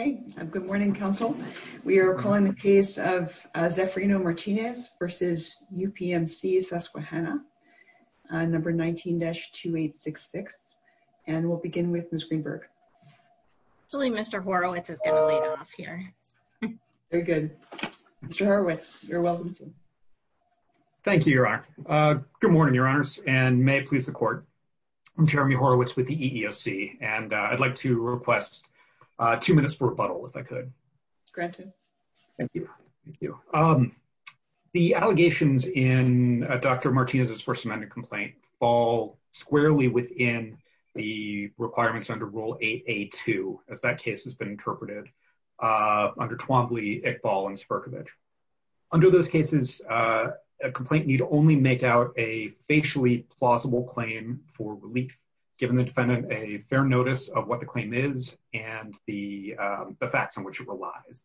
Okay, good morning, Council. We are calling the case of Zefirino Martinez v. UPMC Susquehanna, number 19-2866, and we'll begin with Ms. Greenberg. Actually, Mr. Horowitz is going to lead off here. Very good. Mr. Horowitz, you're welcome to. Thank you, Your Honor. Good morning, Your Honors, and may it please the Court. I'm Jeremy Horowitz with the EEOC, and I'd like to request two minutes for rebuttal, if I could. Granted. Thank you. The allegations in Dr. Martinez's First Amendment complaint fall squarely within the requirements under Rule 8a-2, as that case has been interpreted, under Twombly, Iqbal, and Sperkovich. Under those cases, a complaint need only make out a facially plausible claim for relief, giving the defendant a fair notice of what the claim is and the facts on which it relies.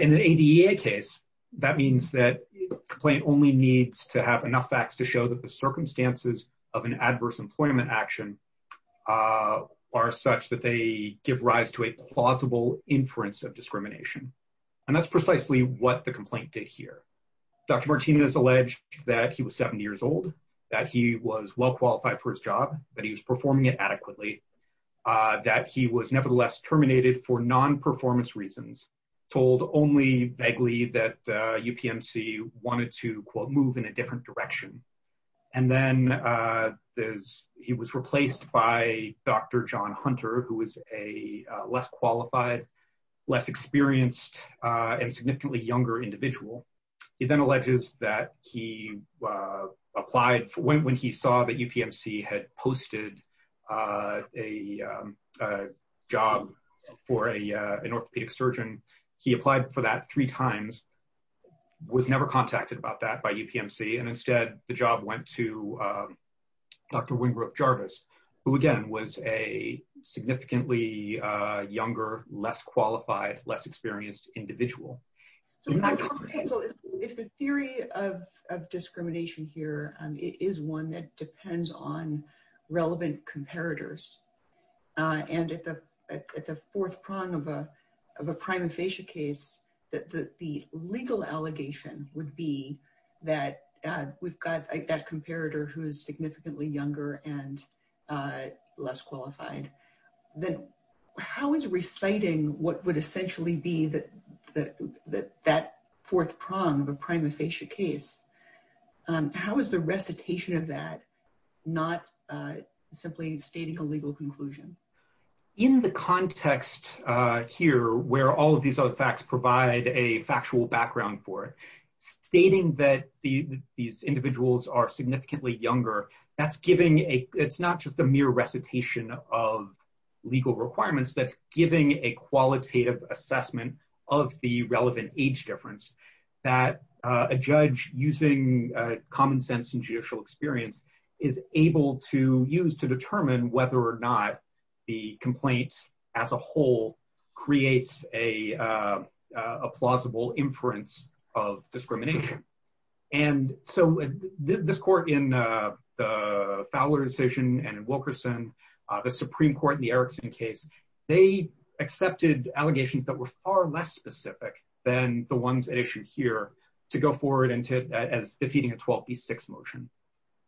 In an ADEA case, that means that the complaint only needs to have enough facts to show that the circumstances of an adverse employment action are such that they give rise to a plausible inference of discrimination. And that's precisely what the complaint did here. Dr. Martinez alleged that he was 70 years old, that he was well qualified for his job, that he was performing it adequately, that he was nevertheless terminated for non-performance reasons, told only vaguely that UPMC wanted to, quote, move in a different direction. And then he was replaced by Dr. John Hunter, who is a less qualified, less experienced, and significantly younger individual. He then alleges that he applied for, when he saw that UPMC had posted a job for an orthopedic surgeon, he applied for that three times, was never contacted about that by UPMC, and instead the job went to Dr. Wingrup Jarvis, who again was a significantly younger, less qualified, less experienced individual. So if the theory of discrimination here is one that depends on relevant comparators, and at the fourth prong of a prima facie case, the legal allegation would be that we've got that comparator who is significantly younger and less qualified. Then how is reciting what would essentially be that fourth prong of a prima facie case, how is the recitation of that not simply stating a legal conclusion? In the context here, where all of these other facts provide a factual background for it, stating that these individuals are significantly younger, that's giving a, it's not just a mere recitation of legal requirements, that's giving a qualitative assessment of the relevant age difference, that a judge using common sense and judicial experience is able to use to determine whether or not the complaint as a whole creates a plausible inference of discrimination. And so this court in the Fowler decision and in Wilkerson, the Supreme Court in the Erickson case, they accepted allegations that were far less specific than the ones that are issued here to go forward as defeating a 12B6 motion.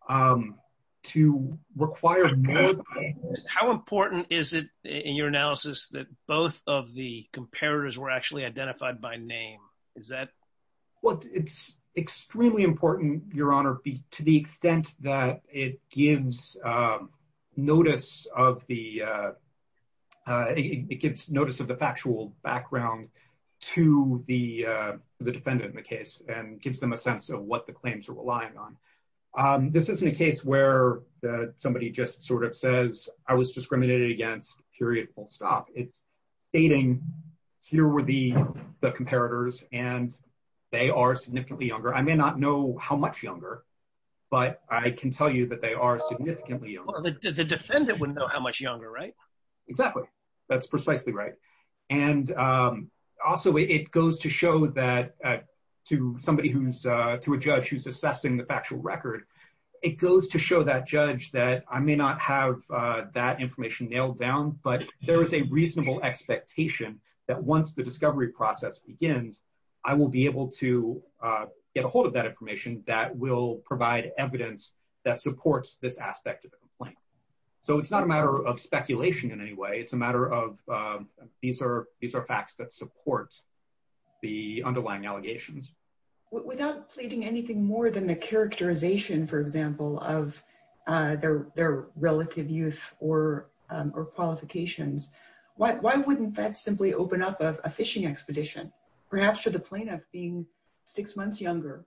How important is it in your analysis that both of the comparators were actually identified by name? Well, it's extremely important, Your Honor, to the extent that it gives notice of the factual background to the defendant in the case and gives them a sense of what the claims are relying on. This isn't a case where somebody just sort of says, I was discriminated against, period, full stop. It's stating, here were the comparators, and they are significantly younger. I may not know how much younger, but I can tell you that they are significantly younger. The defendant wouldn't know how much younger, right? Exactly. That's precisely right. And also, it goes to show that to somebody who's, to a judge who's assessing the factual record, it goes to show that judge that I may not have that information nailed down, but there is a reasonable expectation that once the discovery process begins, I will be able to get a hold of that information that will provide evidence that supports this aspect of the complaint. So it's not a matter of speculation in any way. It's a matter of these are facts that support the underlying allegations. Without pleading anything more than the characterization, for example, of their relative youth or qualifications, why wouldn't that simply open up a fishing expedition, perhaps to the plaintiff being six months younger,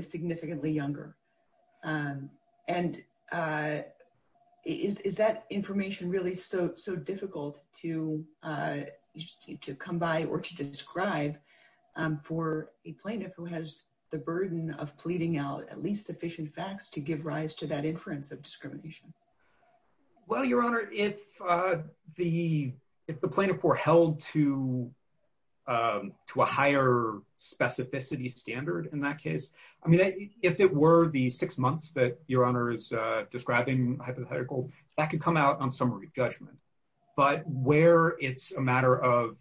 significantly younger? And is that information really so difficult to come by or to describe for a plaintiff who has the burden of pleading out at least sufficient facts to give rise to that inference of discrimination? Well, Your Honor, if the plaintiff were held to a higher specificity standard in that case, I mean, if it were the six months that Your Honor is describing hypothetical, that could come out on summary judgment. But where it's a matter of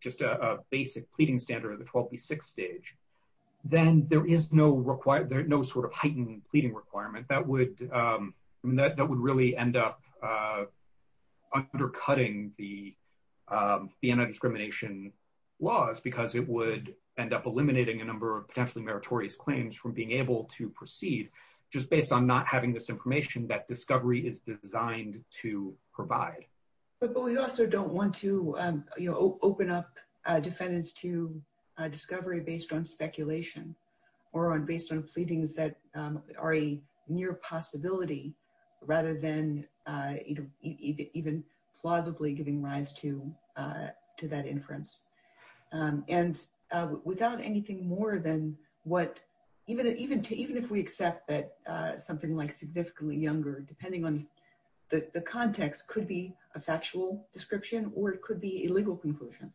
just a basic pleading standard of the 12B6 stage, then there is no sort of heightened pleading requirement that would really end up undercutting the anti-discrimination laws because it would end up eliminating a number of potentially meritorious claims from being able to proceed just based on not having this information that discovery is designed to provide. But we also don't want to open up defendants to discovery based on speculation or based on pleadings that are a near possibility rather than even plausibly giving rise to that inference. And without anything more than what, even if we accept that something like significantly younger, depending on the context, could be a factual description or it could be a legal conclusion.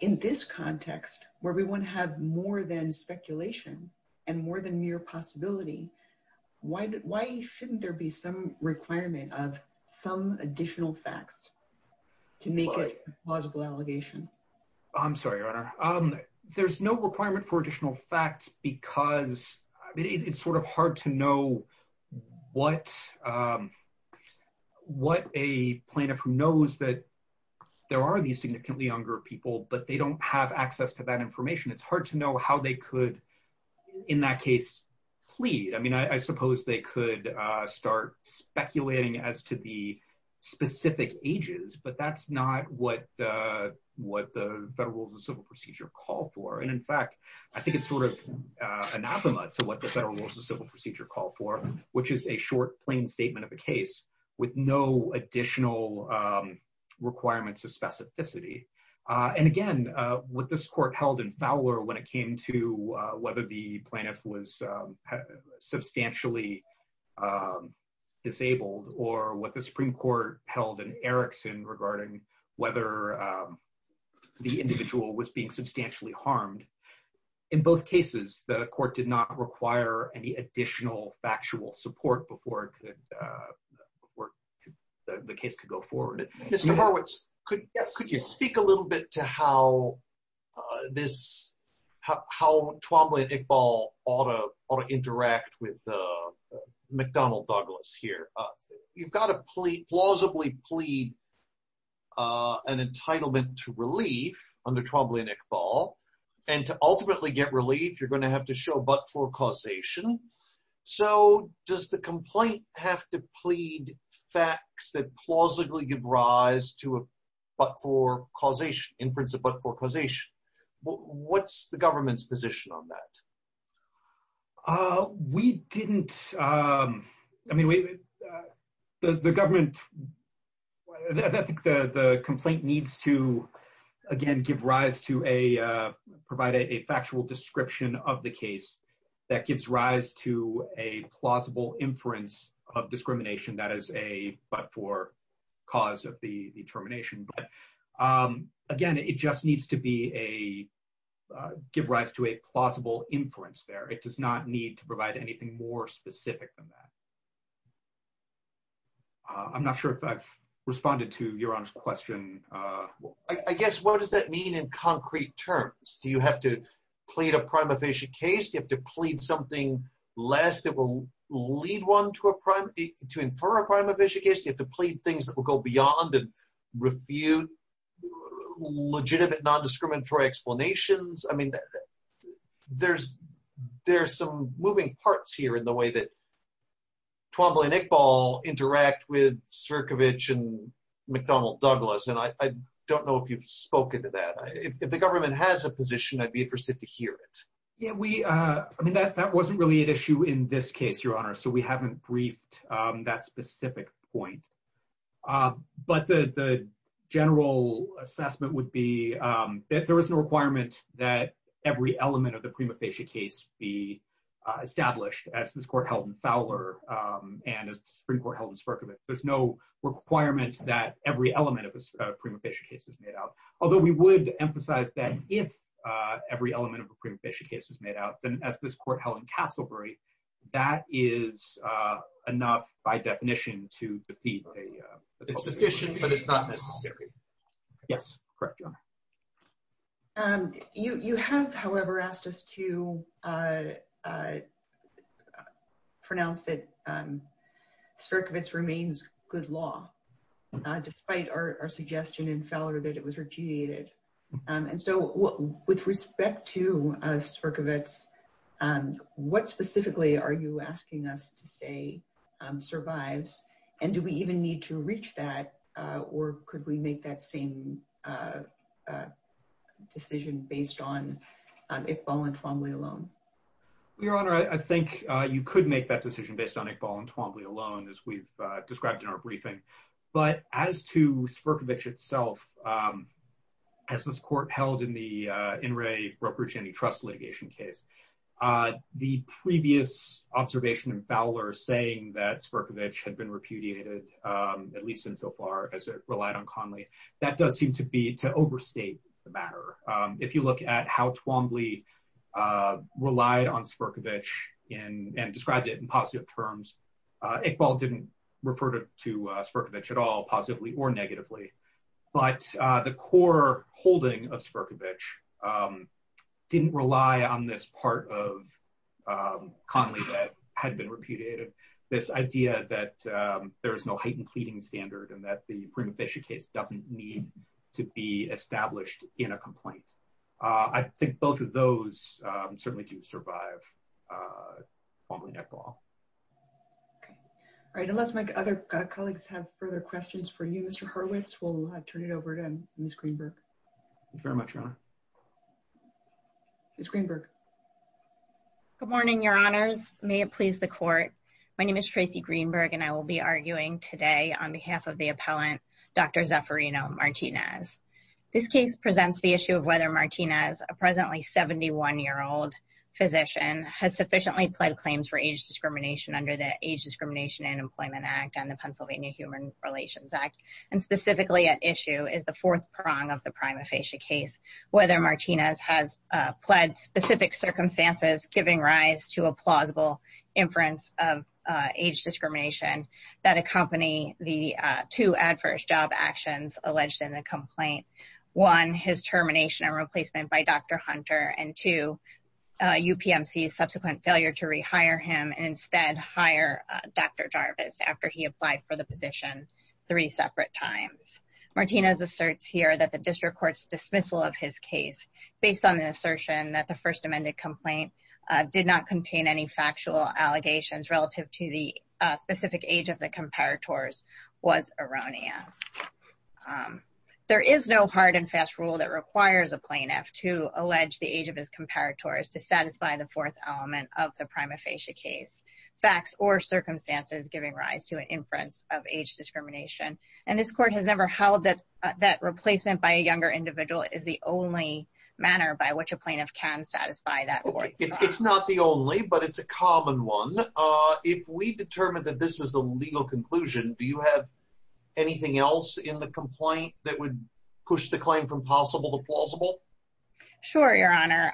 In this context, where we want to have more than speculation and more than mere possibility, why shouldn't there be some requirement of some additional facts to make it a plausible allegation? I'm sorry, Your Honor. There's no requirement for additional facts because it's sort of hard to know what a plaintiff who knows that there are these significantly younger people, but they don't have access to that information. It's hard to know how they could, in that case, plead. I mean, I suppose they could start speculating as to the specific ages, but that's not what the Federal Rules of Civil Procedure call for. And in fact, I think it's sort of anathema to what the Federal Rules of Civil Procedure call for, which is a short, plain statement of a case with no additional requirements of specificity. And again, what this court held in Fowler when it came to whether the plaintiff was substantially disabled or what the Supreme Court held in Erickson regarding whether the individual was being substantially harmed, in both cases, the court did not require any additional factual support before the case could go forward. Mr. Horwitz, could you speak a little bit to how Twombly and Iqbal ought to interact with McDonnell Douglas here? You've got to plausibly plead an entitlement to relief under Twombly and Iqbal. And to ultimately get relief, you're going to have to show but-for causation. So does the complaint have to plead facts that plausibly give rise to a but-for causation, inference of but-for causation? What's the government's position on that? We didn't – I mean, the government – I think the complaint needs to, again, give rise to a – provide a factual description of the case that gives rise to a plausible inference of discrimination that is a but-for cause of the termination. But, again, it just needs to be a – give rise to a plausible inference there. It does not need to provide anything more specific than that. I'm not sure if I've responded to Yaron's question. I guess, what does that mean in concrete terms? Do you have to plead a prima facie case? Do you have to plead something less that will lead one to a – to infer a prima facie case? Do you have to plead things that will go beyond and refute legitimate non-discriminatory explanations? I mean, there's some moving parts here in the way that Twombly and Iqbal interact with Sierkiewicz and McDonnell Douglas. And I don't know if you've spoken to that. If the government has a position, I'd be interested to hear it. Yeah, we – I mean, that wasn't really an issue in this case, Your Honor, so we haven't briefed that specific point. But the general assessment would be that there is no requirement that every element of the prima facie case be established, as this court held in Fowler and as the Supreme Court held in Sierkiewicz. There's no requirement that every element of a prima facie case is made out, although we would emphasize that if every element of a prima facie case is made out, then as this court held in Castlebury, that is enough by definition to defeat a – It's sufficient, but it's not necessary. Yes, correct, Your Honor. You have, however, asked us to pronounce that Sierkiewicz remains good law, despite our suggestion in Fowler that it was repudiated. And so with respect to Sierkiewicz, what specifically are you asking us to say survives? And do we even need to reach that, or could we make that same decision based on Iqbal and Twombly alone? Your Honor, I think you could make that decision based on Iqbal and Twombly alone, as we've described in our briefing. But as to Sierkiewicz itself, as this court held in the Inouye-Roper-Cheney trust litigation case, the previous observation in Fowler saying that Sierkiewicz had been repudiated, at least insofar as it relied on Conley, that does seem to be to overstate the matter. If you look at how Twombly relied on Sierkiewicz and described it in positive terms, Iqbal didn't refer to Sierkiewicz at all, positively or negatively. But the core holding of Sierkiewicz didn't rely on this part of Conley that had been repudiated, this idea that there is no heightened pleading standard and that the Prima Facie case doesn't need to be established in a complaint. I think both of those certainly do survive Twombly netball. Okay. All right. Unless my other colleagues have further questions for you, Mr. Horwitz, we'll turn it over to Ms. Greenberg. Thank you very much, Your Honor. Ms. Greenberg. Good morning, Your Honors. May it please the court. My name is Tracy Greenberg, and I will be arguing today on behalf of the appellant, Dr. Zaffirino Martinez. This case presents the issue of whether Martinez, a presently 71-year-old physician, has sufficiently pled claims for age discrimination under the Age Discrimination and Employment Act and the Pennsylvania Human Relations Act. And specifically at issue is the fourth prong of the Prima Facie case, whether Martinez has pled specific circumstances giving rise to a plausible inference of age discrimination that accompany the two adverse job actions alleged in the complaint. One, his termination and replacement by Dr. Hunter, and two, UPMC's subsequent failure to rehire him and instead hire Dr. Jarvis after he applied for the position three separate times. Martinez asserts here that the district court's dismissal of his case, based on the assertion that the First Amendment complaint did not contain any factual allegations relative to the specific age of the comparators, was erroneous. There is no hard and fast rule that requires a plaintiff to allege the age of his comparators to satisfy the fourth element of the Prima Facie case, facts or circumstances giving rise to an inference of age discrimination. And this court has never held that replacement by a younger individual is the only manner by which a plaintiff can satisfy that fourth element. It's not the only, but it's a common one. If we determined that this was a legal conclusion, do you have anything else in the complaint that would push the claim from possible to plausible? Sure, Your Honor.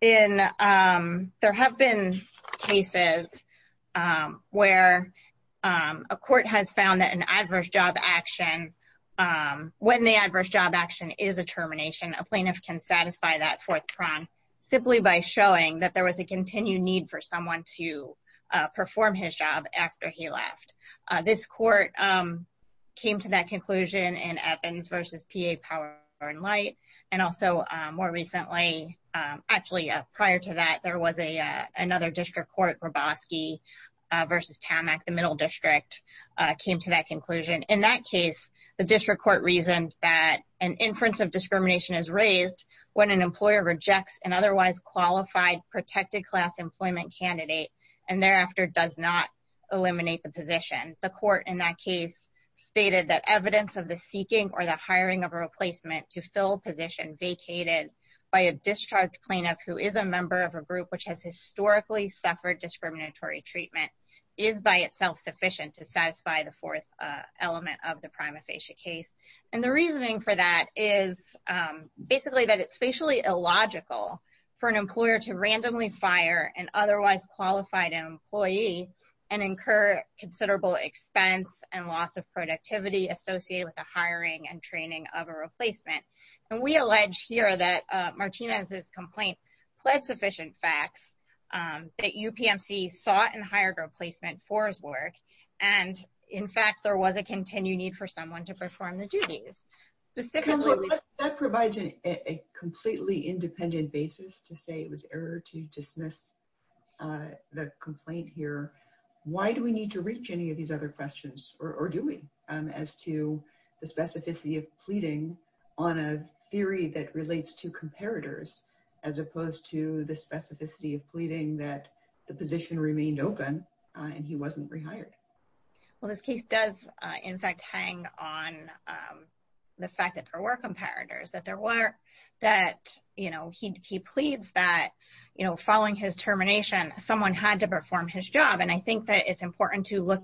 There have been cases where a court has found that when the adverse job action is a termination, a plaintiff can satisfy that fourth prong simply by showing that there was a continued need for someone to perform his job after he left. This court came to that conclusion in Evans v. P.A. Power and Light. And also more recently, actually prior to that, there was another district court, Grabowski v. Tammack, the middle district, came to that conclusion. In that case, the district court reasoned that an inference of discrimination is raised when an employer rejects an otherwise qualified protected class employment candidate and thereafter does not eliminate the position. The court in that case stated that evidence of the seeking or the hiring of a replacement to fill a position vacated by a discharged plaintiff who is a member of a group which has historically suffered discriminatory treatment is by itself sufficient to satisfy the fourth element of the prima facie case. And the reasoning for that is basically that it's facially illogical for an employer to randomly fire an otherwise qualified employee and incur considerable expense and loss of productivity associated with the hiring and training of a replacement. And we allege here that Martinez's complaint pled sufficient facts that UPMC sought and hired a replacement for his work. And in fact, there was a continued need for someone to perform the duties. That provides a completely independent basis to say it was error to dismiss the complaint here. Why do we need to reach any of these other questions, or do we, as to the specificity of pleading on a theory that relates to comparators, as opposed to the specificity of pleading that the position remained open and he wasn't rehired? Well, this case does, in fact, hang on the fact that there were comparators, that there were that, you know, he pleads that, you know, following his termination, someone had to perform his job. And I think that it's important to look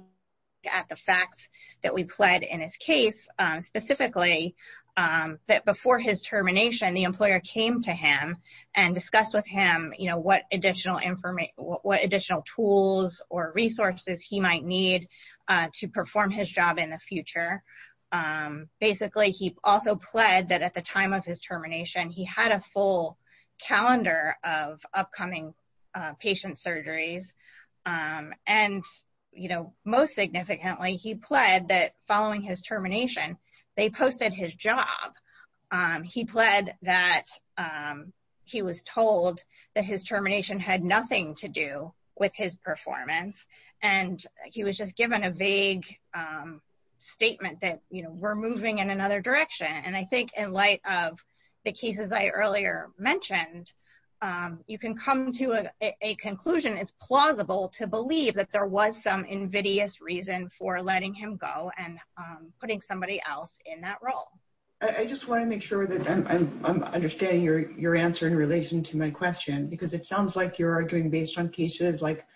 at the facts that we pled in his case, specifically, that before his termination, the employer came to him and discussed with him, you know, what additional information, what additional tools or resources he might need to perform his job in the future. Basically, he also pled that at the time of his termination, he had a full calendar of upcoming patient surgeries. And, you know, most significantly, he pled that following his termination, they posted his job. He pled that he was told that his termination had nothing to do with his performance, and he was just given a vague statement that, you know, we're moving in another direction. And I think in light of the cases I earlier mentioned, you can come to a conclusion, it's plausible to believe that there was some invidious reason for letting him go and putting somebody else in that role. I just want to make sure that I'm understanding your answer in relation to my question, because it sounds like you're arguing based on cases like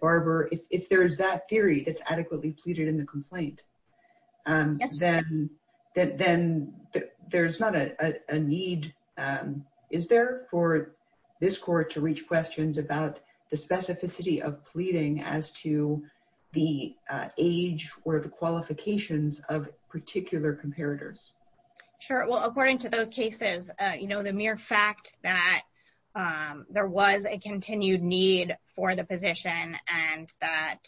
Barbara, if there's that theory that's adequately pleaded in the complaint, then there's not a need, is there, for this court to reach questions about the specificity of pleading as to the age or the qualifications of particular comparators? Sure. Well, according to those cases, you know, the mere fact that there was a continued need for the position and that,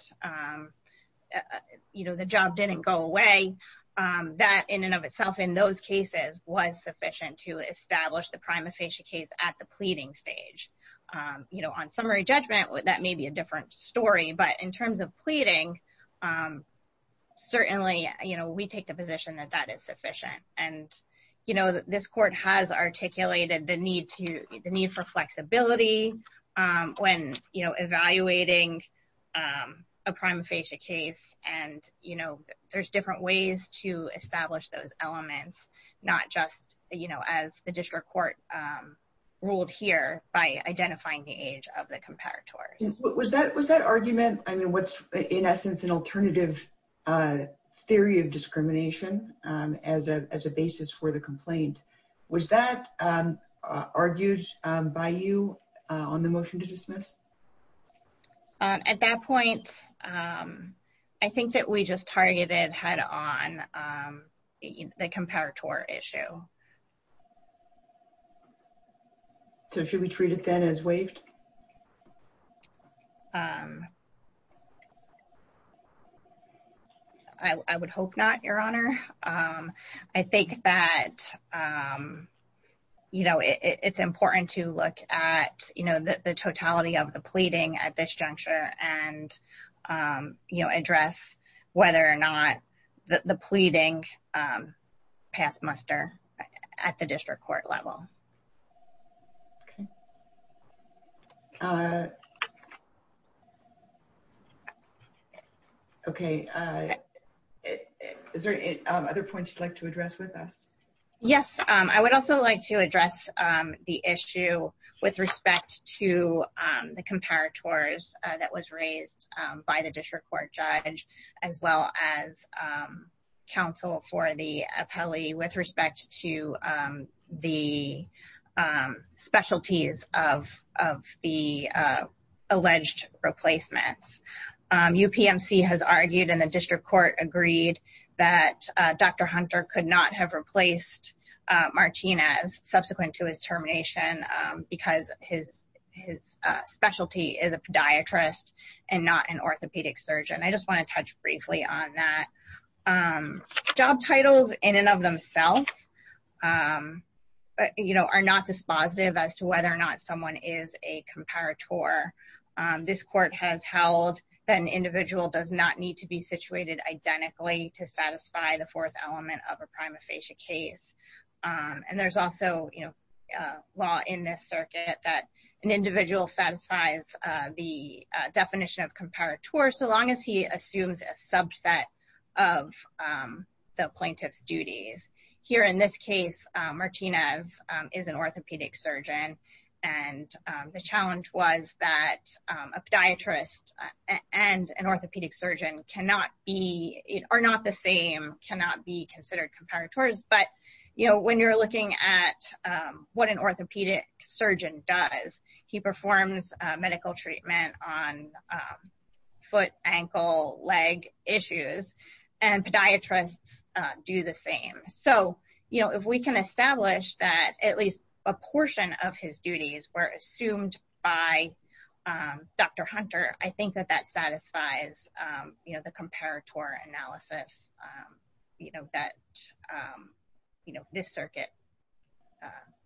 you know, the job didn't go away, that in and of itself in those cases was sufficient to establish the prima facie case at the pleading stage. You know, on summary judgment, that may be a different story. But in terms of pleading, certainly, you know, we take the position that that is sufficient. And, you know, this court has articulated the need for flexibility when, you know, evaluating a prima facie case. And, you know, there's different ways to establish those elements, not just, you know, as the district court ruled here by identifying the age of the comparator. Was that argument, I mean, what's, in essence, an alternative theory of discrimination as a basis for the complaint? Was that argued by you on the motion to dismiss? At that point, I think that we just targeted head on the comparator issue. So should we treat it then as waived? I would hope not, Your Honor. I think that, you know, it's important to look at, you know, the totality of the pleading at this juncture and, you know, address whether or not the pleading passed muster at the district court level. Okay. Is there any other points you'd like to address with us? Yes, I would also like to address the issue with respect to the comparators that was raised by the district court judge, as well as counsel for the appellee with respect to the specialties of the alleged replacements. UPMC has argued and the district court agreed that Dr. Hunter could not have replaced Martinez subsequent to his termination because his specialty is a podiatrist and not an orthopedic surgeon. I just want to touch briefly on that. Job titles in and of themselves, you know, are not dispositive as to whether or not someone is a comparator. This court has held that an individual does not need to be situated identically to satisfy the fourth element of a prima facie case. And there's also, you know, law in this circuit that an individual satisfies the definition of comparator so long as he assumes a subset of the plaintiff's duties. Here in this case, Martinez is an orthopedic surgeon. And the challenge was that a podiatrist and an orthopedic surgeon cannot be, are not the same, cannot be considered comparators. But, you know, when you're looking at what an orthopedic surgeon does, he performs medical treatment on foot, ankle, leg issues, and podiatrists do the same. So, you know, if we can establish that at least a portion of his duties were assumed by Dr. Hunter, I think that that satisfies, you know, the comparator analysis, you know, that, you know, this circuit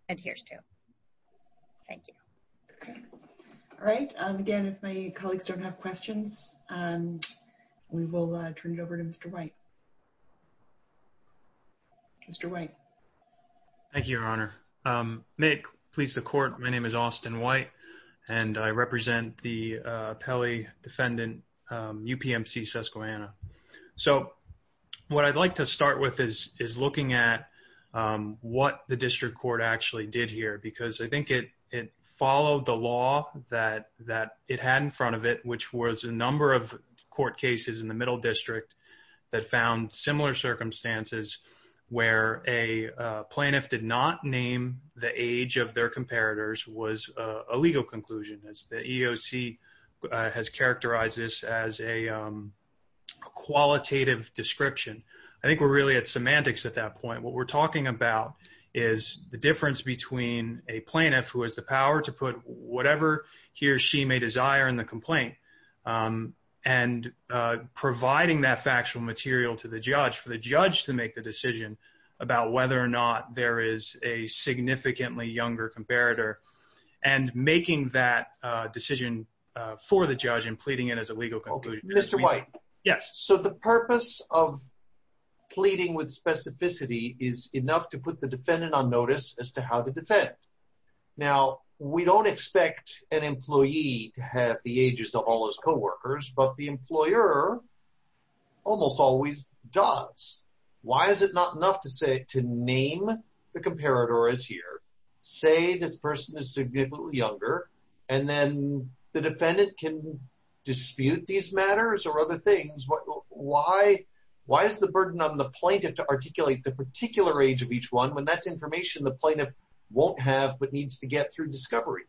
adheres to. Thank you. All right. Again, if my colleagues don't have questions, we will turn it over to Mr. White. Mr. White. Thank you, Your Honor. May it please the court, my name is Austin White, and I represent the Pele defendant, UPMC Susquehanna. So, what I'd like to start with is looking at what the district court actually did here. Because I think it followed the law that it had in front of it, which was a number of court cases in the middle district that found similar circumstances where a plaintiff did not name the age of their comparators was a legal conclusion. The EEOC has characterized this as a qualitative description. I think we're really at semantics at that point. What we're talking about is the difference between a plaintiff who has the power to put whatever he or she may desire in the complaint, and providing that factual material to the judge, for the judge to make the decision about whether or not there is a significantly younger comparator, and making that decision for the judge and pleading it as a legal conclusion. Mr. White. Yes. So, the purpose of pleading with specificity is enough to put the defendant on notice as to how to defend. Now, we don't expect an employee to have the ages of all his co-workers, but the employer almost always does. Why is it not enough to say, to name the comparator as here, say this person is significantly younger, and then the defendant can dispute these matters or other things? Why is the burden on the plaintiff to articulate the particular age of each one when that's information the plaintiff won't have but needs to get through discovery?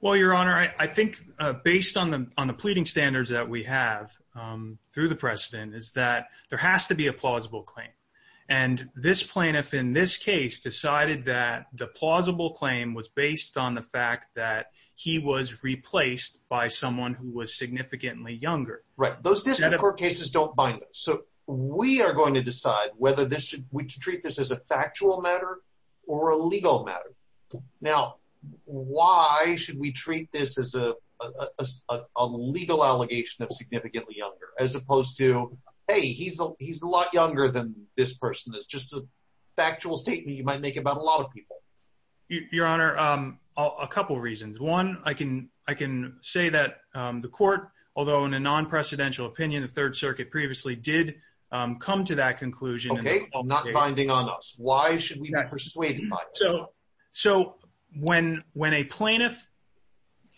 Well, Your Honor, I think based on the pleading standards that we have through the precedent is that there has to be a plausible claim. And this plaintiff in this case decided that the plausible claim was based on the fact that he was replaced by someone who was significantly younger. Right. Those district court cases don't bind us. So, we are going to decide whether we treat this as a factual matter or a legal matter. Now, why should we treat this as a legal allegation of significantly younger as opposed to, hey, he's a lot younger than this person. It's just a factual statement you might make about a lot of people. Your Honor, a couple of reasons. One, I can say that the court, although in a non-precedential opinion, the Third Circuit previously did come to that conclusion. Okay, not binding on us. Why should we be persuaded by it? So, when a plaintiff,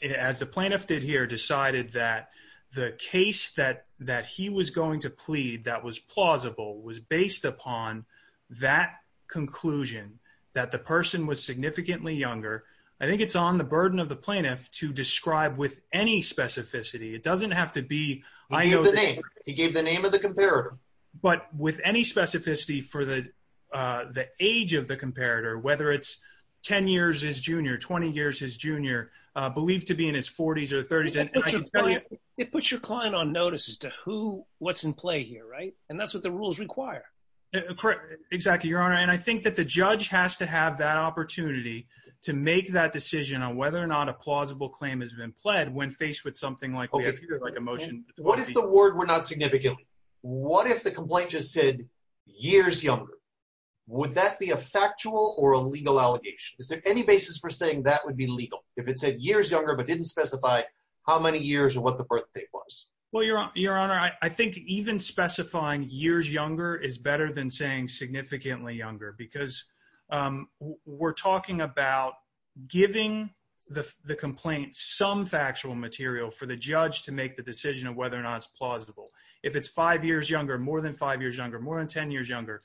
as the plaintiff did here, decided that the case that he was going to plead that was plausible was based upon that conclusion, that the person was significantly younger, I think it's on the burden of the plaintiff to describe with any specificity. It doesn't have to be… He gave the name. He gave the name of the comparator. But with any specificity for the age of the comparator, whether it's 10 years his junior, 20 years his junior, believed to be in his 40s or 30s, and I can tell you… It puts your client on notice as to who, what's in play here, right? And that's what the rules require. Correct. Exactly, Your Honor. And I think that the judge has to have that opportunity to make that decision on whether or not a plausible claim has been pled when faced with something like we have here, like a motion. What if the word were not significantly? What if the complaint just said years younger? Would that be a factual or a legal allegation? Is there any basis for saying that would be legal if it said years younger but didn't specify how many years or what the birth date was? Well, Your Honor, I think even specifying years younger is better than saying significantly younger because we're talking about giving the complaint some factual material for the judge to make the decision of whether or not it's plausible. If it's five years younger, more than five years younger, more than 10 years younger,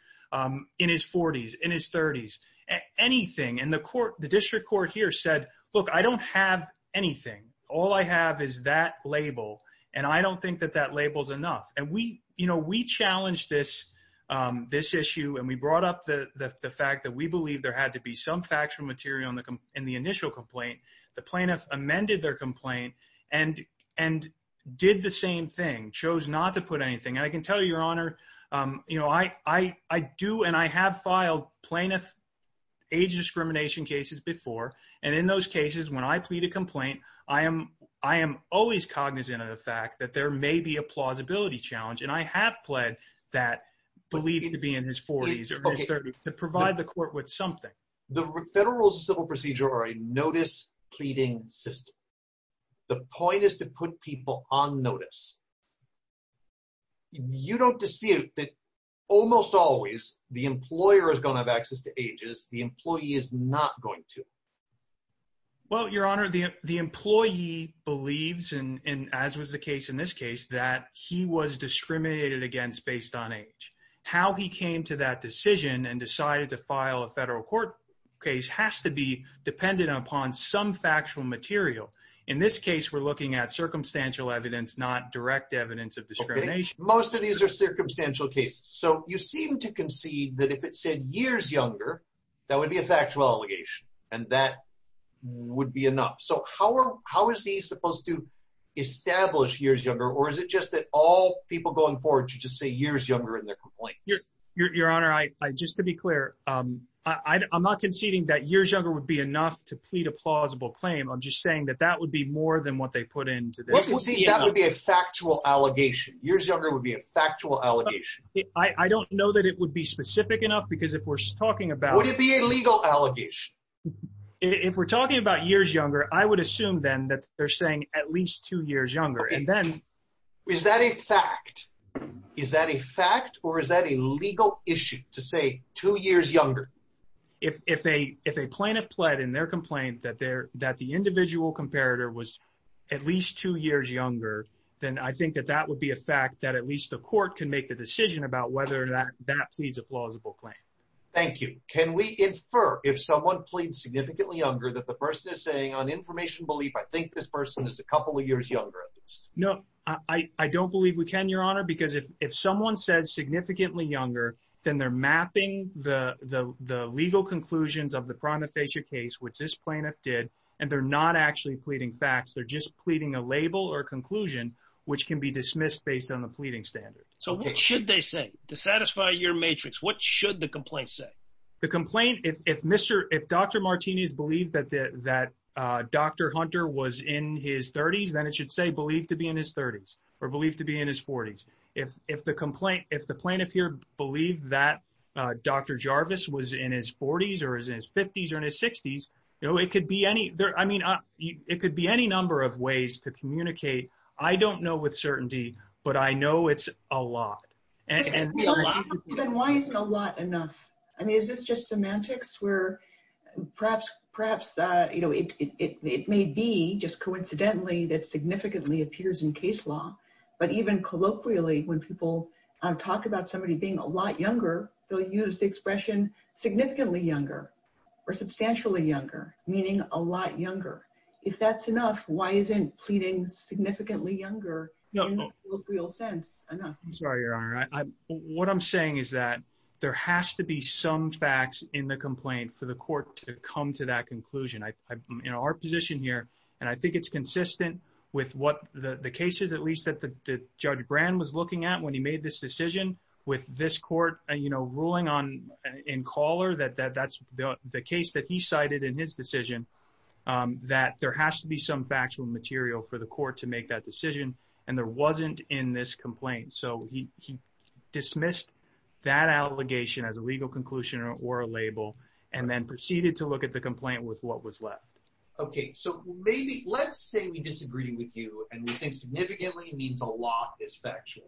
in his 40s, in his 30s, anything. And the district court here said, look, I don't have anything. All I have is that label, and I don't think that that label is enough. And we challenged this issue, and we brought up the fact that we believe there had to be some factual material in the initial complaint. The plaintiff amended their complaint and did the same thing, chose not to put anything. And I can tell you, Your Honor, I do and I have filed plaintiff age discrimination cases before. And in those cases, when I plead a complaint, I am always cognizant of the fact that there may be a plausibility challenge. And I have pled that belief to be in his 40s or his 30s to provide the court with something. The federal civil procedure or a notice pleading system. The point is to put people on notice. You don't dispute that almost always the employer is going to have access to ages. The employee is not going to. Well, Your Honor, the employee believes, and as was the case in this case, that he was discriminated against based on age. How he came to that decision and decided to file a federal court case has to be dependent upon some factual material. In this case, we're looking at circumstantial evidence, not direct evidence of discrimination. Most of these are circumstantial cases. So you seem to concede that if it said years younger, that would be a factual allegation and that would be enough. So how are how is he supposed to establish years younger? Or is it just that all people going forward to just say years younger in their complaints? Your Honor, I just to be clear, I'm not conceding that years younger would be enough to plead a plausible claim. I'm just saying that that would be more than what they put into this. That would be a factual allegation. Years younger would be a factual allegation. I don't know that it would be specific enough because if we're talking about would it be a legal allegation? If we're talking about years younger, I would assume then that they're saying at least two years younger. And then is that a fact? Is that a fact or is that a legal issue to say two years younger? If if a if a plaintiff pled in their complaint that there that the individual comparator was at least two years younger, then I think that that would be a fact that at least the court can make the decision about whether or not that pleads a plausible claim. Thank you. Can we infer if someone pleads significantly younger that the person is saying on information belief? I think this person is a couple of years younger. No, I don't believe we can, Your Honor, because if if someone says significantly younger, then they're mapping the the the legal conclusions of the prima facie case, which this plaintiff did. And they're not actually pleading facts. They're just pleading a label or conclusion which can be dismissed based on the pleading standard. So what should they say to satisfy your matrix? What should the complaint say? The complaint, if Mr. If Dr. Martinez believed that that Dr. Hunter was in his 30s, then it should say believed to be in his 30s or believed to be in his 40s. If the complaint if the plaintiff here believed that Dr. Jarvis was in his 40s or his 50s or in his 60s, you know, it could be any there. I mean, it could be any number of ways to communicate. I don't know with certainty, but I know it's a lot. Then why isn't a lot enough? I mean, is this just semantics where perhaps perhaps, you know, it may be just coincidentally that significantly appears in case law. But even colloquially, when people talk about somebody being a lot younger, they'll use the expression significantly younger or substantially younger, meaning a lot younger. If that's enough, why isn't pleading significantly younger? Real sense. I'm sorry, Your Honor. What I'm saying is that there has to be some facts in the complaint for the court to come to that conclusion. I am in our position here, and I think it's consistent with what the case is, at least that Judge Brand was looking at when he made this decision with this court, you know, ruling on in color that that's the case that he cited in his decision, that there has to be some factual material for the court to make that decision, and there wasn't in this complaint. So he dismissed that allegation as a legal conclusion or a label and then proceeded to look at the complaint with what was left. OK, so maybe let's say we disagree with you and we think significantly means a lot is factual.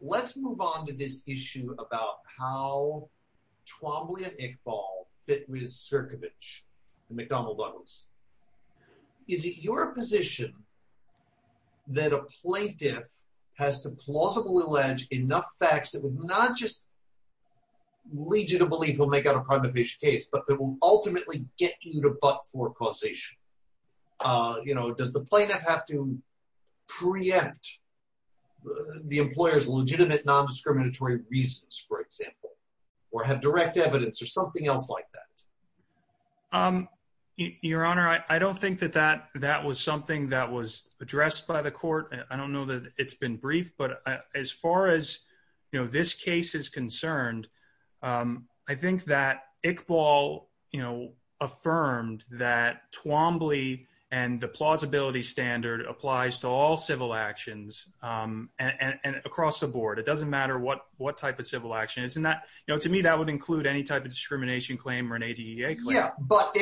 Let's move on to this issue about how Twombly and Iqbal fit with Sierkiewicz and McDonnell Douglas. Is it your position that a plaintiff has to plausibly allege enough facts that would not just lead you to believe he'll make out a prima facie case, but that will ultimately get you to butt for causation? You know, does the plaintiff have to preempt the employer's legitimate nondiscriminatory reasons, for example, or have direct evidence or something else like that? Your Honor, I don't think that that was something that was addressed by the court. I don't know that it's been brief, but as far as this case is concerned, I think that Iqbal affirmed that Twombly and the plausibility standard applies to all civil actions across the board. It doesn't matter what type of civil action. To me, that would include any type of discrimination claim or an ADA claim. Yeah, but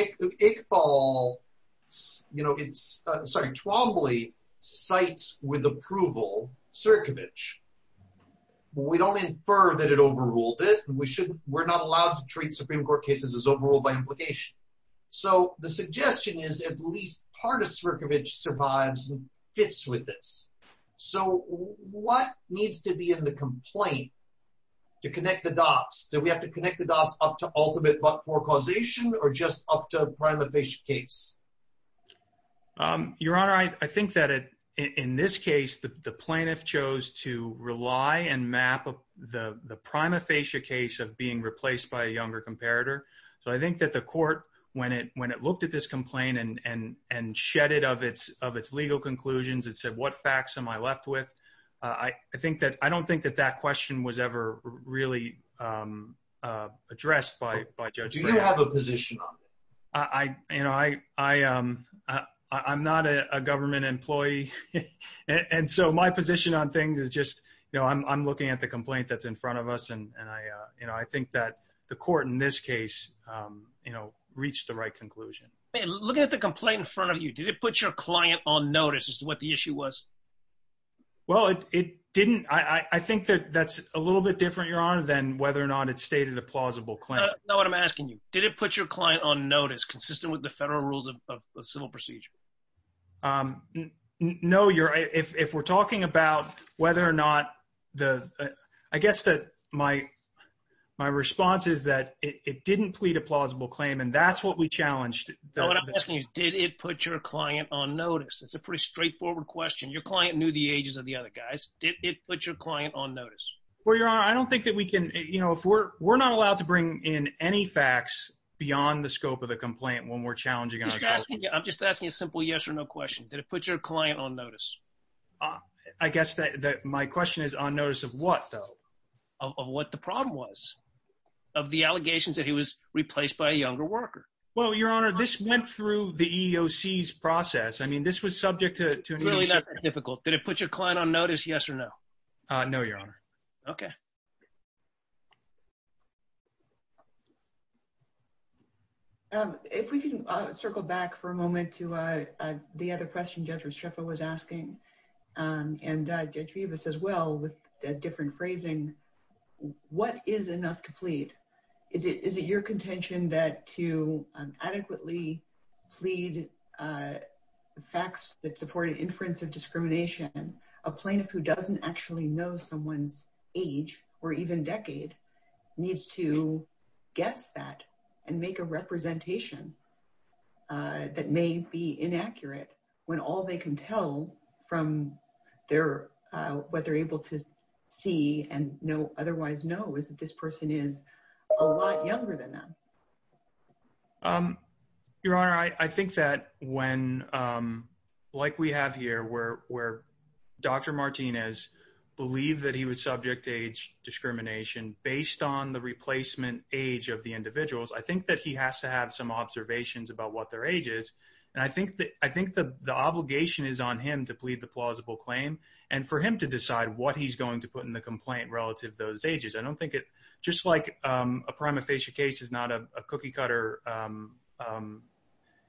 Twombly cites with approval Sierkiewicz. We don't infer that it overruled it. We're not allowed to treat Supreme Court cases as overruled by implication. So the suggestion is at least part of Sierkiewicz survives and fits with this. So what needs to be in the complaint to connect the dots? Do we have to connect the dots up to ultimate butt for causation or just up to a prima facie case? Your Honor, I think that in this case, the plaintiff chose to rely and map the prima facie case of being replaced by a younger comparator. So I think that the court, when it looked at this complaint and shed it of its legal conclusions, it said, what facts am I left with? I don't think that that question was ever really addressed by Judge Bray. Do you have a position on it? You know, I'm not a government employee. And so my position on things is just, you know, I'm looking at the complaint that's in front of us. And I, you know, I think that the court in this case, you know, reached the right conclusion. Looking at the complaint in front of you, did it put your client on notice as to what the issue was? Well, it didn't. I think that that's a little bit different, Your Honor, than whether or not it stated a plausible claim. No, what I'm asking you, did it put your client on notice consistent with the federal rules of civil procedure? No, if we're talking about whether or not the, I guess that my response is that it didn't plead a plausible claim. And that's what we challenged. No, what I'm asking is, did it put your client on notice? It's a pretty straightforward question. Your client knew the ages of the other guys. Did it put your client on notice? Well, Your Honor, I don't think that we can, you know, if we're, we're not allowed to bring in any facts beyond the scope of the complaint when we're challenging it. I'm just asking a simple yes or no question. Did it put your client on notice? I guess that my question is on notice of what, though? Of what the problem was, of the allegations that he was replaced by a younger worker. Well, Your Honor, this went through the EEOC's process. I mean, this was subject to. It's really not that difficult. Did it put your client on notice, yes or no? No, Your Honor. Okay. If we can circle back for a moment to the other question Judge Restrepo was asking, and Judge Vivas as well, with a different phrasing, what is enough to plead? Is it your contention that to adequately plead facts that support an inference of discrimination, a plaintiff who doesn't actually know someone's age, or even decade, needs to guess that and make a representation that may be inaccurate when all they can tell from their, what they're able to see and know, otherwise know, is that this person is a lot younger than them? Your Honor, I think that when, like we have here, where Dr. Martinez believed that he was subject to age discrimination based on the replacement age of the individuals, I think that he has to have some observations about what their age is. And I think the obligation is on him to plead the plausible claim and for him to decide what he's going to put in the complaint relative to those ages. I don't think it, just like a prima facie case is not a cookie cutter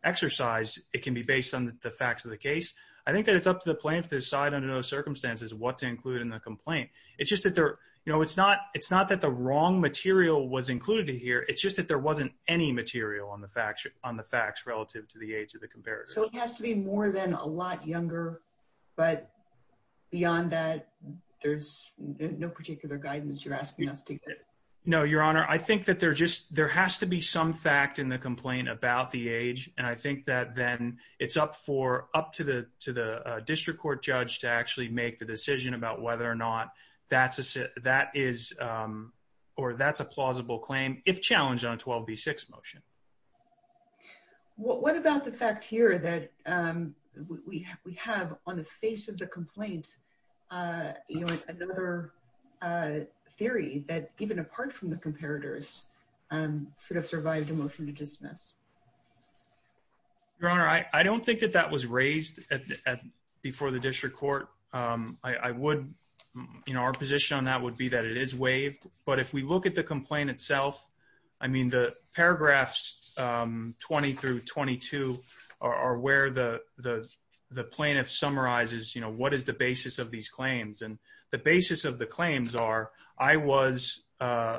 exercise, it can be based on the facts of the case. I think that it's up to the plaintiff to decide under those circumstances what to include in the complaint. It's not that the wrong material was included here, it's just that there wasn't any material on the facts relative to the age of the comparator. So it has to be more than a lot younger, but beyond that, there's no particular guidance you're asking us to give? No, Your Honor, I think that there has to be some fact in the complaint about the age, and I think that then it's up to the district court judge to actually make the decision about whether or not that's a plausible claim, if challenged on a 12b6 motion. What about the fact here that we have on the face of the complaint another theory that even apart from the comparators should have survived a motion to dismiss? Your Honor, I don't think that that was raised before the district court. Our position on that would be that it is waived, but if we look at the complaint itself, the paragraphs 20-22 are where the plaintiff summarizes what is the basis of these claims. The basis of the claims are Dr.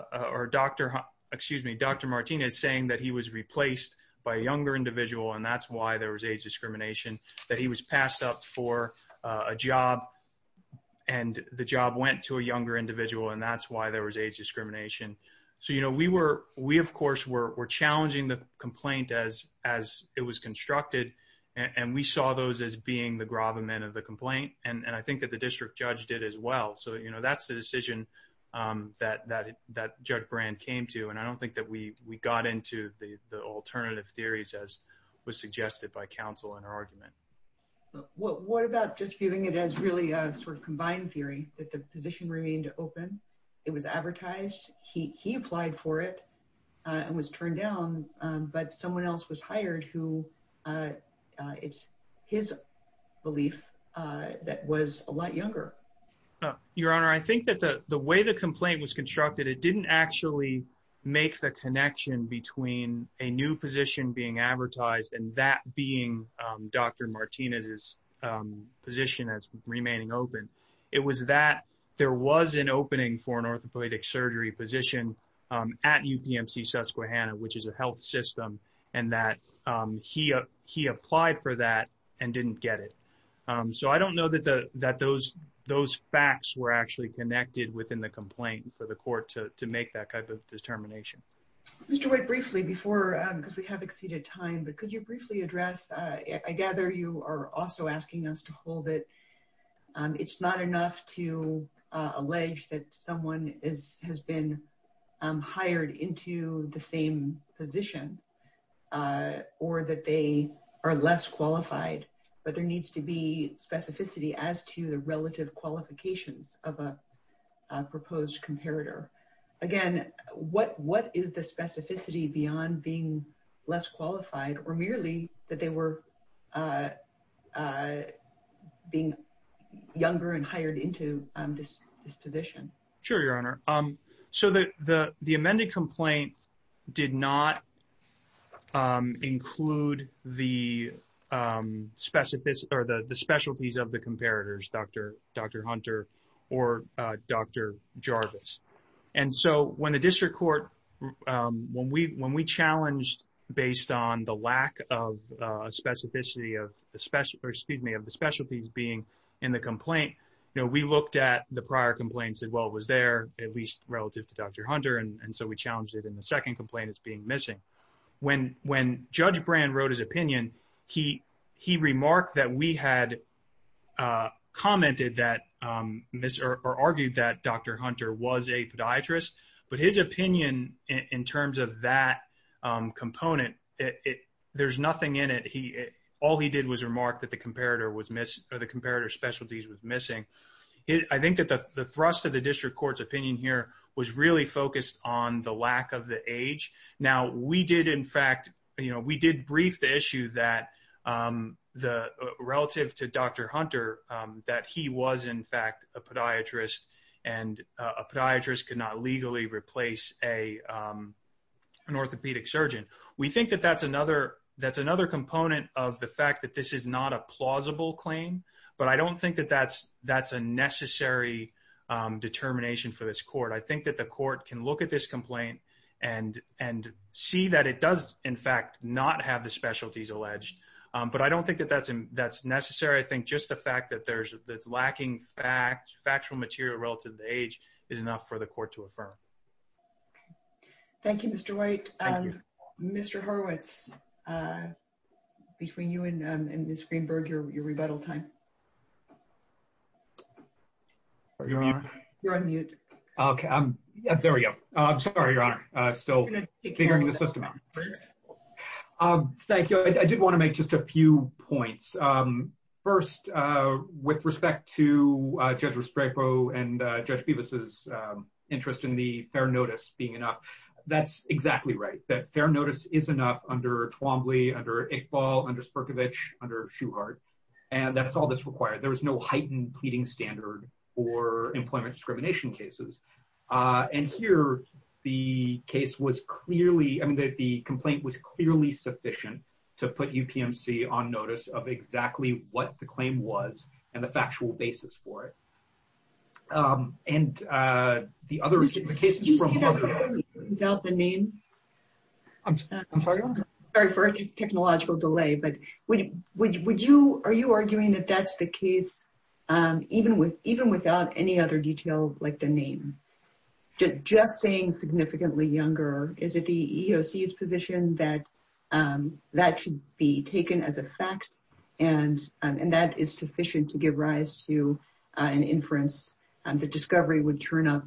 Martinez saying that he was replaced by a younger individual and that's why there was age discrimination, that he was passed up for a job and the job went to a younger individual and that's why there was age discrimination. We, of course, were challenging the complaint as it was constructed, and we saw those as being the gravamen of the complaint, and I think that the district judge did as well. That's the decision that Judge Brand came to, and I don't think that we got into the alternative theories as was suggested by counsel in her argument. What about just giving it as really a sort of combined theory that the position remained open, it was advertised, he applied for it, and was turned down, but someone else was hired who it's his belief that was a lot younger? Your Honor, I think that the way the complaint was constructed, it didn't actually make the connection between a new position being advertised and that being Dr. Martinez's position as remaining open. It was that there was an opening for an orthopedic surgery position at UPMC Susquehanna, which is a health system, and that he applied for that and didn't get it. So I don't know that those facts were actually connected within the complaint for the court to make that type of determination. Mr. White, briefly before, because we have exceeded time, but could you briefly address, I gather you are also asking us to hold it, it's not enough to allege that someone has been hired into the same position, or that they are less qualified, but there needs to be specificity as to the relative qualifications of a proposed comparator. Again, what is the specificity beyond being less qualified, or merely that they were being younger and hired into this position? Sure, Your Honor. So the amended complaint did not include the specialties of the comparators, Dr. Hunter or Dr. Jarvis. And so when the district court, when we challenged based on the lack of specificity of the specialties being in the complaint, we looked at the prior complaint and said, well, it was there, at least relative to Dr. Hunter, and so we challenged it in the second complaint as being missing. When Judge Brand wrote his opinion, he remarked that we had commented that, or argued that Dr. Hunter was a podiatrist, but his opinion in terms of that component, there's nothing in it. All he did was remark that the comparator specialties was missing. I think that the thrust of the district court's opinion here was really focused on the lack of the age. Now, we did in fact, you know, we did brief the issue that relative to Dr. Hunter, that he was in fact a podiatrist, and a podiatrist could not legally replace an orthopedic surgeon. We think that that's another component of the fact that this is not a plausible claim, but I don't think that that's a necessary determination for this court. I think that the court can look at this complaint and see that it does in fact not have the specialties alleged. But I don't think that that's necessary. I think just the fact that there's lacking factual material relative to age is enough for the court to affirm. Thank you, Mr. White. Mr. Horowitz, between you and Ms. Greenberg, your rebuttal time. You're on mute. Okay, there we go. I'm sorry, Your Honor, still figuring the system out. Thank you. I did want to make just a few points. First, with respect to Judge Risproproh and Judge Bevis' interest in the fair notice being enough. That's exactly right, that fair notice is enough under Twombly, under Iqbal, under Sperkovic, under Shuhart. And that's all that's required. There was no heightened pleading standard for employment discrimination cases. And here, the case was clearly, I mean, the complaint was clearly sufficient to put UPMC on notice of exactly what the claim was and the factual basis for it. And the other cases from... Without the name? I'm sorry, Your Honor? ...the discovery would turn up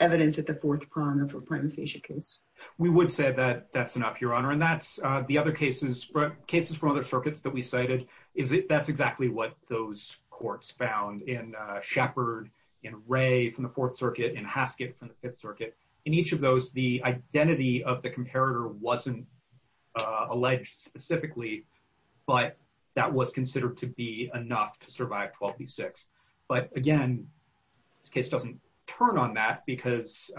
evidence at the fourth prong of a primifacia case. We would say that that's enough, Your Honor. And that's the other cases, cases from other circuits that we cited, that's exactly what those courts found in Shepard, in Ray from the Fourth Circuit, in Haskett from the Fifth Circuit. In each of those, the identity of the comparator wasn't alleged specifically, but that was considered to be enough to survive 12 v. 6. But again, this case doesn't turn on that because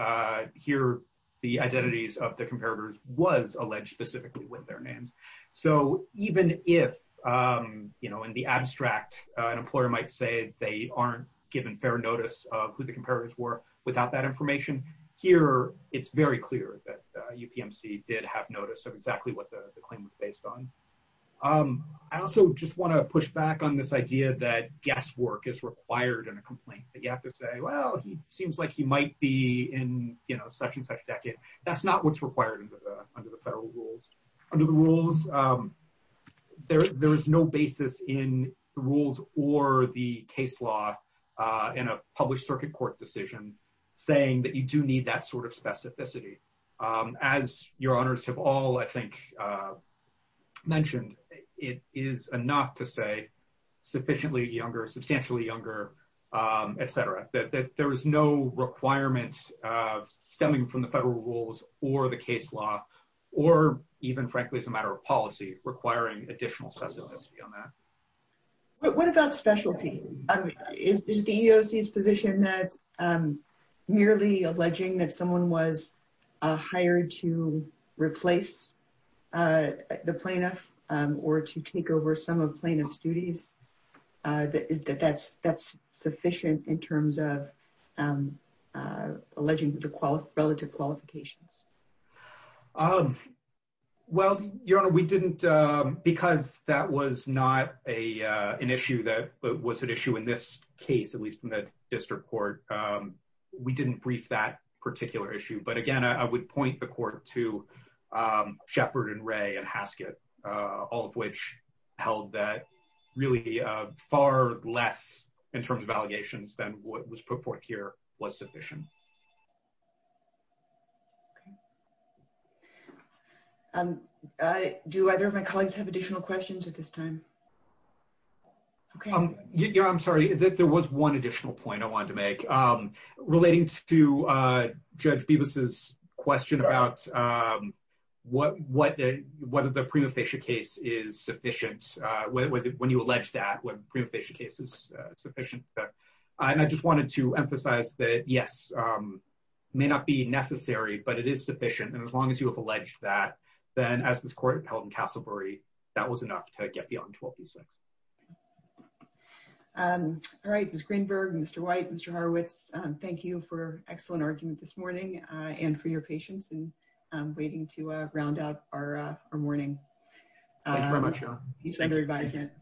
here, the identities of the comparators was alleged specifically with their names. So even if, you know, in the abstract, an employer might say they aren't given fair notice of who the comparators were without that information, here, it's very clear that UPMC did have notice of exactly what the claim was based on. I also just want to push back on this idea that guesswork is required in a complaint. You have to say, well, he seems like he might be in, you know, such and such decade. That's not what's required under the federal rules. Under the rules, there is no basis in the rules or the case law in a published circuit court decision saying that you do need that sort of specificity. As your honors have all, I think, mentioned, it is enough to say sufficiently younger, substantially younger, etc. That there is no requirement stemming from the federal rules or the case law or even, frankly, as a matter of policy requiring additional specificity on that. What about specialty? Is the EEOC's position that merely alleging that someone was hired to replace the plaintiff or to take over some of plaintiff's duties, that that's sufficient in terms of alleging the relative qualifications? Well, your honor, we didn't because that was not a an issue that was an issue in this case, at least in the district court. We didn't brief that particular issue. But again, I would point the court to Shepard and Ray and Haskett, all of which held that really far less in terms of allegations than what was put forth here was sufficient. Do either of my colleagues have additional questions at this time? I'm sorry, there was one additional point I wanted to make relating to Judge Bibas's question about whether the prima facie case is sufficient, when you allege that when prima facie case is sufficient. And I just wanted to emphasize that, yes, may not be necessary, but it is sufficient. And as long as you have alleged that, then as this court held in Castlebury, that was enough to get beyond 12-6. All right, Ms. Greenberg, Mr. White, Mr. Horowitz, thank you for excellent argument this morning and for your patience and waiting to round up our morning. Thank you very much, your honor. Thank you for your advisement.